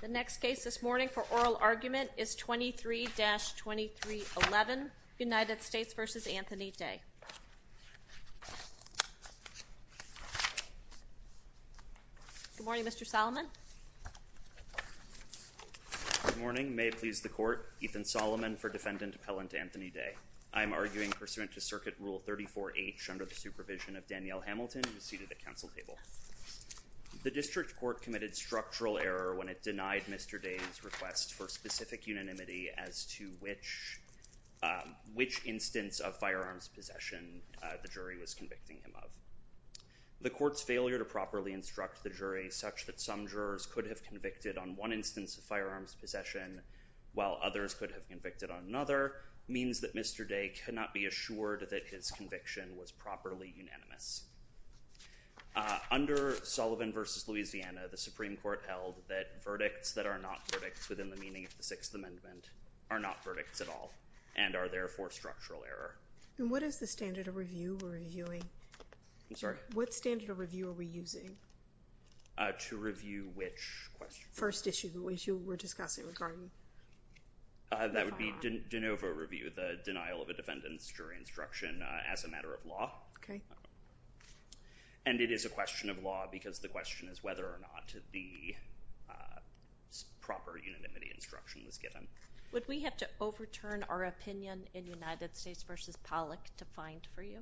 The next case this morning for oral argument is 23-2311, United States v. Anthony Day. Good morning, Mr. Solomon. Good morning. May it please the Court, Ethan Solomon for Defendant Appellant Anthony Day. I am arguing pursuant to Circuit Rule 34H under the supervision of Danielle Hamilton, who is seated at Council Table. The District Court committed structural error when it denied Mr. Day's request for specific unanimity as to which instance of firearms possession the jury was convicting him of. The Court's failure to properly instruct the jury such that some jurors could have convicted on one instance of firearms possession while others could have convicted on another means that Mr. Day cannot be assured that his conviction was properly unanimous. Under Solomon v. Louisiana, the Supreme Court held that verdicts that are not verdicts within the meaning of the Sixth Amendment are not verdicts at all and are therefore structural error. And what is the standard of review we're reviewing? I'm sorry? What standard of review are we using? To review which question? First issue, the issue we're discussing regarding the firearm. That would be de novo review, the denial of a defendant's jury instruction as a matter of law. Okay. And it is a question of law because the question is whether or not the proper unanimity instruction was given. Would we have to overturn our opinion in United States v. Pollock to find for you?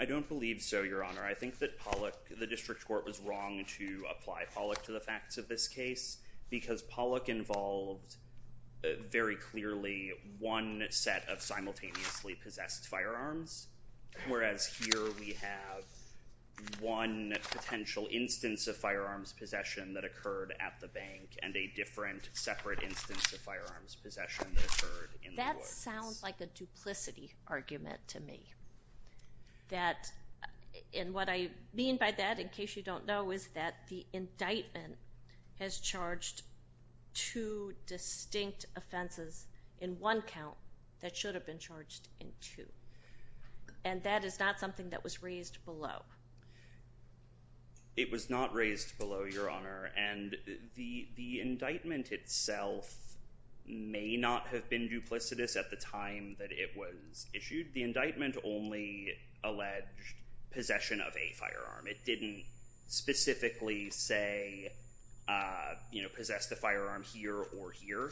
I don't believe so, Your Honor. I think that Pollock, the district court was wrong to apply Pollock to the facts of this case because Pollock involved very clearly one set of simultaneously possessed firearms, whereas here we have one potential instance of firearms possession that occurred at the bank and a different separate instance of firearms possession that occurred in the woods. This sounds like a duplicity argument to me. And what I mean by that, in case you don't know, is that the indictment has charged two distinct offenses in one count that should have been charged in two. And that is not something that was raised below. It was not raised below, Your Honor. And the indictment itself may not have been duplicitous at the time that it was issued. The indictment only alleged possession of a firearm. It didn't specifically say, you know, possess the firearm here or here.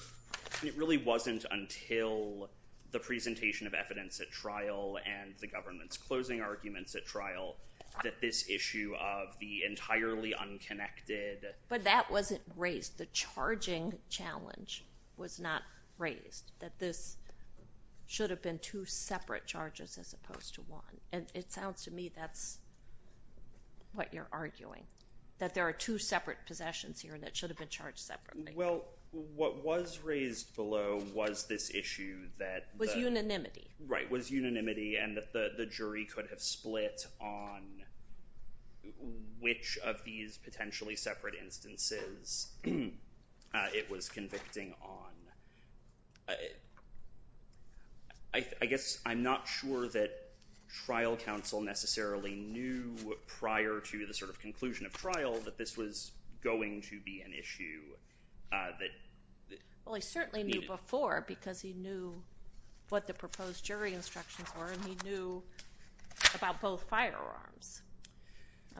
It really wasn't until the presentation of evidence at trial and the government's closing arguments at trial that this issue of the entirely unconnected. But that wasn't raised. The charging challenge was not raised, that this should have been two separate charges as opposed to one. And it sounds to me that's what you're arguing, that there are two separate possessions here that should have been charged separately. Well, what was raised below was this issue that. Was unanimity. Right, was unanimity and that the jury could have split on which of these potentially separate instances it was convicting on. I guess I'm not sure that trial counsel necessarily knew prior to the sort of conclusion of trial that this was going to be an issue that. Well, he certainly knew before because he knew what the proposed jury instructions were and he knew about both firearms.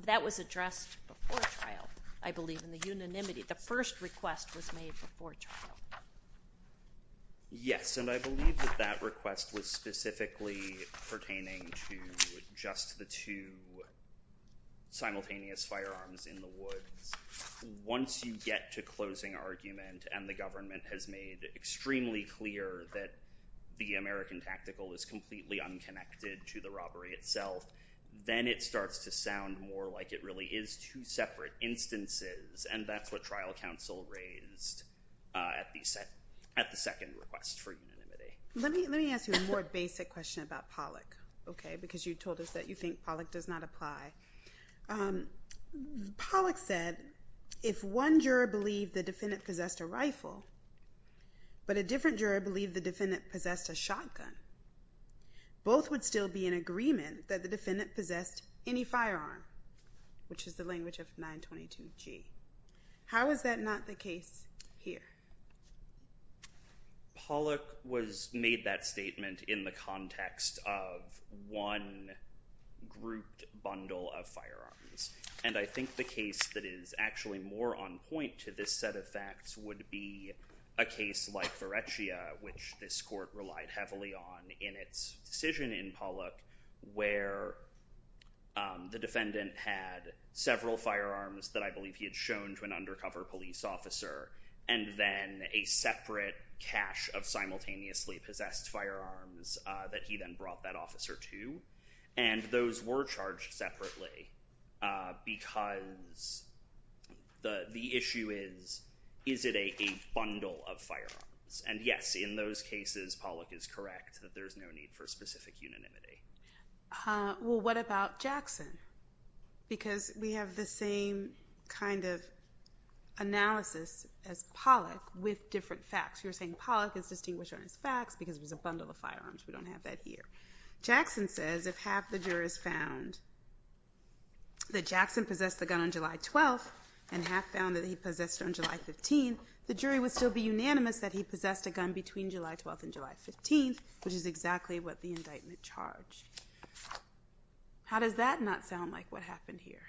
That was addressed before trial, I believe, in the unanimity. The first request was made before trial. Yes, and I believe that that request was specifically pertaining to just the two simultaneous firearms in the woods. Once you get to closing argument and the government has made extremely clear that the American tactical is completely unconnected to the robbery itself. Then it starts to sound more like it really is two separate instances. And that's what trial counsel raised at the second request for unanimity. Let me ask you a more basic question about Pollack. Okay, because you told us that you think Pollack does not apply. Pollack said, if one juror believed the defendant possessed a rifle, but a different juror believed the defendant possessed a shotgun. Both would still be in agreement that the defendant possessed any firearm, which is the language of 922 G. How is that not the case here? Pollack made that statement in the context of one grouped bundle of firearms. And I think the case that is actually more on point to this set of facts would be a case like Varechia, which this court relied heavily on in its decision in Pollack, where the defendant had several firearms that I believe he had shown to an undercover police officer. And then a separate cache of simultaneously possessed firearms that he then brought that officer to. And those were charged separately because the issue is, is it a bundle of firearms? And yes, in those cases, Pollack is correct that there's no need for specific unanimity. Well, what about Jackson? Because we have the same kind of analysis as Pollack with different facts. You're saying Pollack is distinguished on his facts because it was a bundle of firearms. We don't have that here. Jackson says if half the jurors found that Jackson possessed the gun on July 12th and half found that he possessed it on July 15th, the jury would still be unanimous that he possessed a gun between July 12th and July 15th, which is exactly what the indictment charged. How does that not sound like what happened here?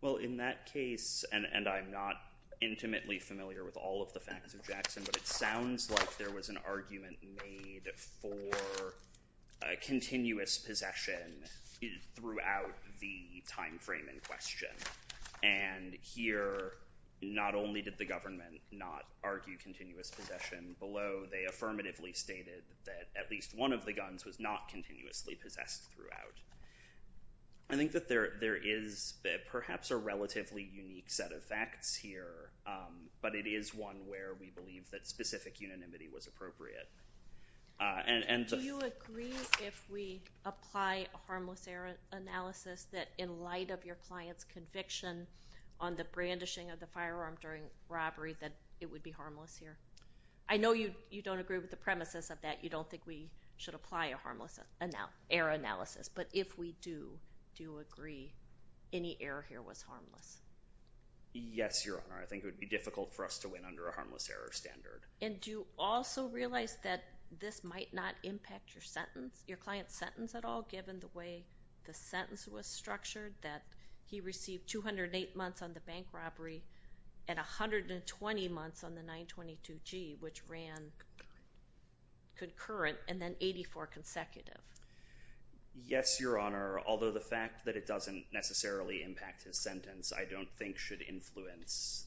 Well, in that case, and I'm not intimately familiar with all of the facts of Jackson, but it sounds like there was an argument made for a continuous possession throughout the time frame in question. And here, not only did the government not argue continuous possession below, they affirmatively stated that at least one of the guns was not continuously possessed throughout. I think that there is perhaps a relatively unique set of facts here, but it is one where we believe that specific unanimity was appropriate. Do you agree if we apply a harmless error analysis that in light of your client's conviction on the brandishing of the firearm during robbery that it would be harmless here? I know you don't agree with the premises of that. You don't think we should apply a harmless error analysis, but if we do, do you agree any error here was harmless? Yes, Your Honor. I think it would be difficult for us to win under a harmless error standard. And do you also realize that this might not impact your client's sentence at all, given the way the sentence was structured, that he received 208 months on the bank robbery and 120 months on the 922G, which ran concurrent and then 84 consecutive? Yes, Your Honor, although the fact that it doesn't necessarily impact his sentence I don't think should influence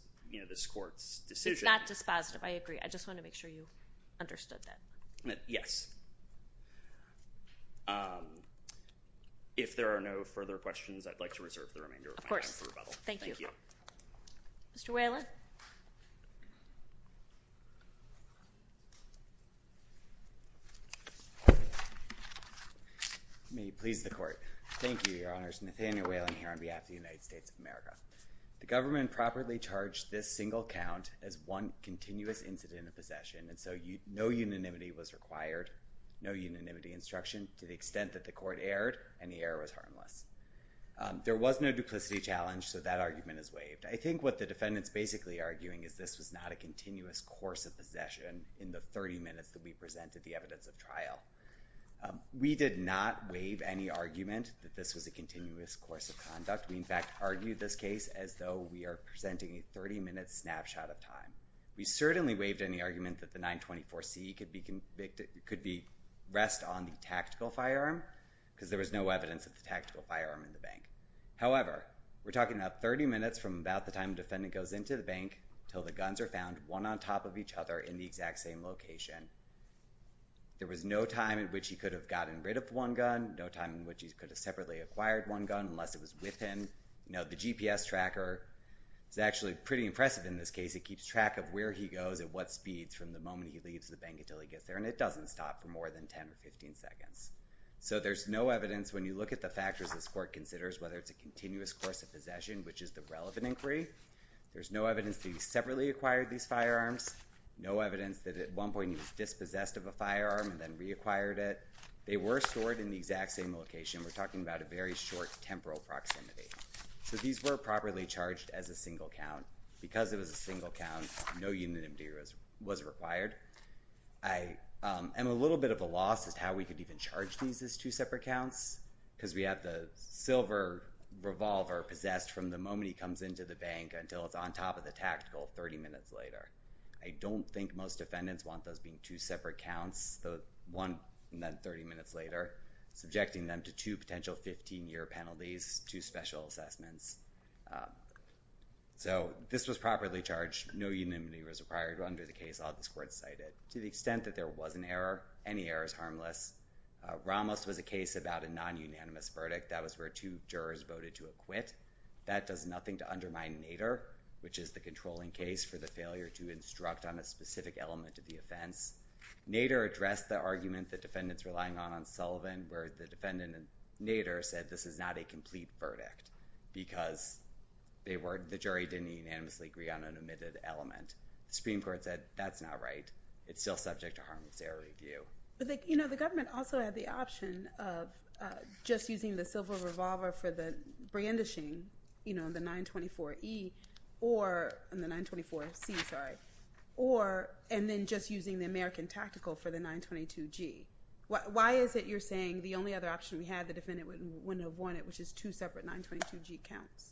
this court's decision. Not dispositive, I agree. I just want to make sure you understood that. Yes. If there are no further questions, I'd like to reserve the remainder of my time for rebuttal. Of course. Thank you. Mr. Whalen. May it please the Court. Thank you, Your Honors. Nathaniel Whalen here on behalf of the United States of America. The government properly charged this single count as one continuous incident of possession, and so no unanimity was required, no unanimity instruction to the extent that the court erred and the error was harmless. There was no duplicity challenge, so that argument is waived. I think what the defendant's basically arguing is this was not a continuous course of possession in the 30 minutes that we presented the evidence of trial. We did not waive any argument that this was a continuous course of conduct. We, in fact, argued this case as though we are presenting a 30-minute snapshot of time. We certainly waived any argument that the 924C could rest on the tactical firearm because there was no evidence of the tactical firearm in the bank. However, we're talking about 30 minutes from about the time the defendant goes into the bank until the guns are found, one on top of each other in the exact same location. There was no time in which he could have gotten rid of one gun, no time in which he could have separately acquired one gun unless it was with him. The GPS tracker is actually pretty impressive in this case. It keeps track of where he goes and what speeds from the moment he leaves the bank until he gets there, and it doesn't stop for more than 10 or 15 seconds. So there's no evidence when you look at the factors this court considers, whether it's a continuous course of possession, which is the relevant inquiry. There's no evidence that he separately acquired these firearms, no evidence that at one point he was dispossessed of a firearm and then reacquired it. They were stored in the exact same location. We're talking about a very short temporal proximity. So these were properly charged as a single count. Because it was a single count, no unanimity was required. And a little bit of a loss is how we could even charge these as two separate counts because we have the silver revolver possessed from the moment he comes into the bank until it's on top of the tactical 30 minutes later. I don't think most defendants want those being two separate counts. So one and then 30 minutes later, subjecting them to two potential 15-year penalties, two special assessments. So this was properly charged. No unanimity was required under the case all this court cited. To the extent that there was an error, any error is harmless. Ramos was a case about a non-unanimous verdict. That was where two jurors voted to acquit. That does nothing to undermine Nader, Nader addressed the argument the defendants were lying on on Sullivan where the defendant, Nader, said this is not a complete verdict because the jury didn't unanimously agree on an omitted element. The Supreme Court said that's not right. It's still subject to harmless error review. But the government also had the option of just using the silver revolver for the brandishing, you know, the 924-E or the 924-C, sorry, or and then just using the American tactical for the 922-G. Why is it you're saying the only other option we had, the defendant wouldn't have won it, which is two separate 922-G counts?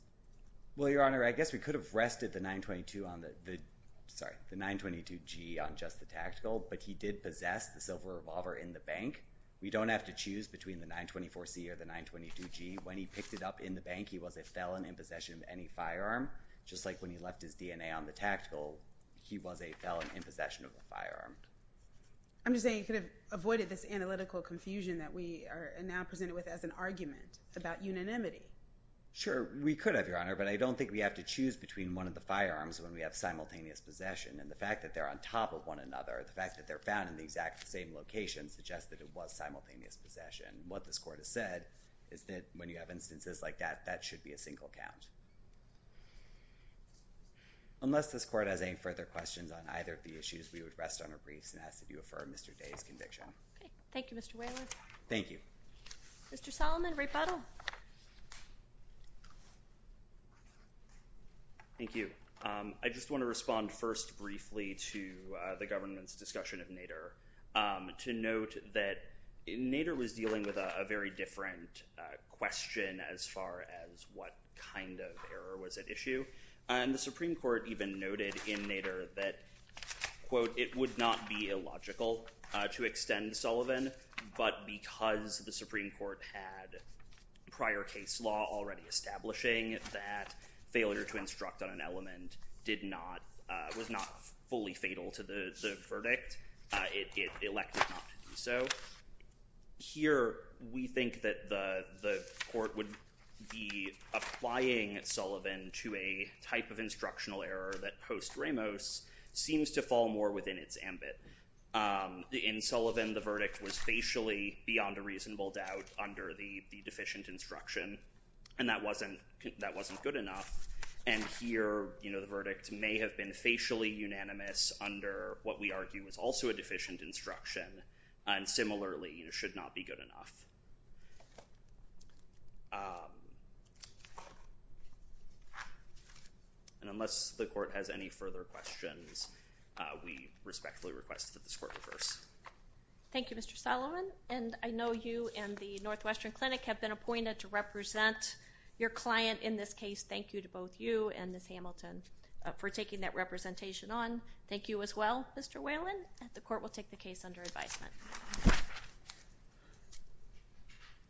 Well, Your Honor, I guess we could have rested the 922 on the, sorry, the 922-G on just the tactical, but he did possess the silver revolver in the bank. We don't have to choose between the 924-C or the 922-G. When he picked it up in the bank, he was a felon in possession of any firearm. Just like when he left his DNA on the tactical, he was a felon in possession of a firearm. I'm just saying you could have avoided this analytical confusion that we are now presented with as an argument about unanimity. Sure, we could have, Your Honor, but I don't think we have to choose between one of the firearms when we have simultaneous possession, and the fact that they're on top of one another, the fact that they're found in the exact same location suggests that it was simultaneous possession. What this court has said is that when you have instances like that, that should be a single count. Unless this court has any further questions on either of the issues, we would rest on our briefs and ask that you affirm Mr. Day's conviction. Okay. Thank you, Mr. Whaler. Thank you. Mr. Solomon, rebuttal. Thank you. I just want to respond first briefly to the government's discussion of Nader. To note that Nader was dealing with a very different question as far as what kind of error was at issue, and the Supreme Court even noted in Nader that, quote, it would not be illogical to extend Sullivan, but because the Supreme Court had prior case law already establishing that failure to instruct on an element was not fully fatal to the verdict, it elected not to do so. Here we think that the court would be applying Sullivan to a type of instructional error that post Ramos seems to fall more within its ambit. In Sullivan, the verdict was facially beyond a reasonable doubt under the deficient instruction, and that wasn't good enough. And here, you know, the verdict may have been facially unanimous under what we argue is also a deficient instruction, and similarly should not be good enough. And unless the court has any further questions, we respectfully request that this court reverse. Thank you, Mr. Sullivan. And I know you and the Northwestern Clinic have been appointed to represent your client in this case. Thank you to both you and Ms. Hamilton for taking that representation on. Thank you as well, Mr. Whalen. The court will take the case under advisement.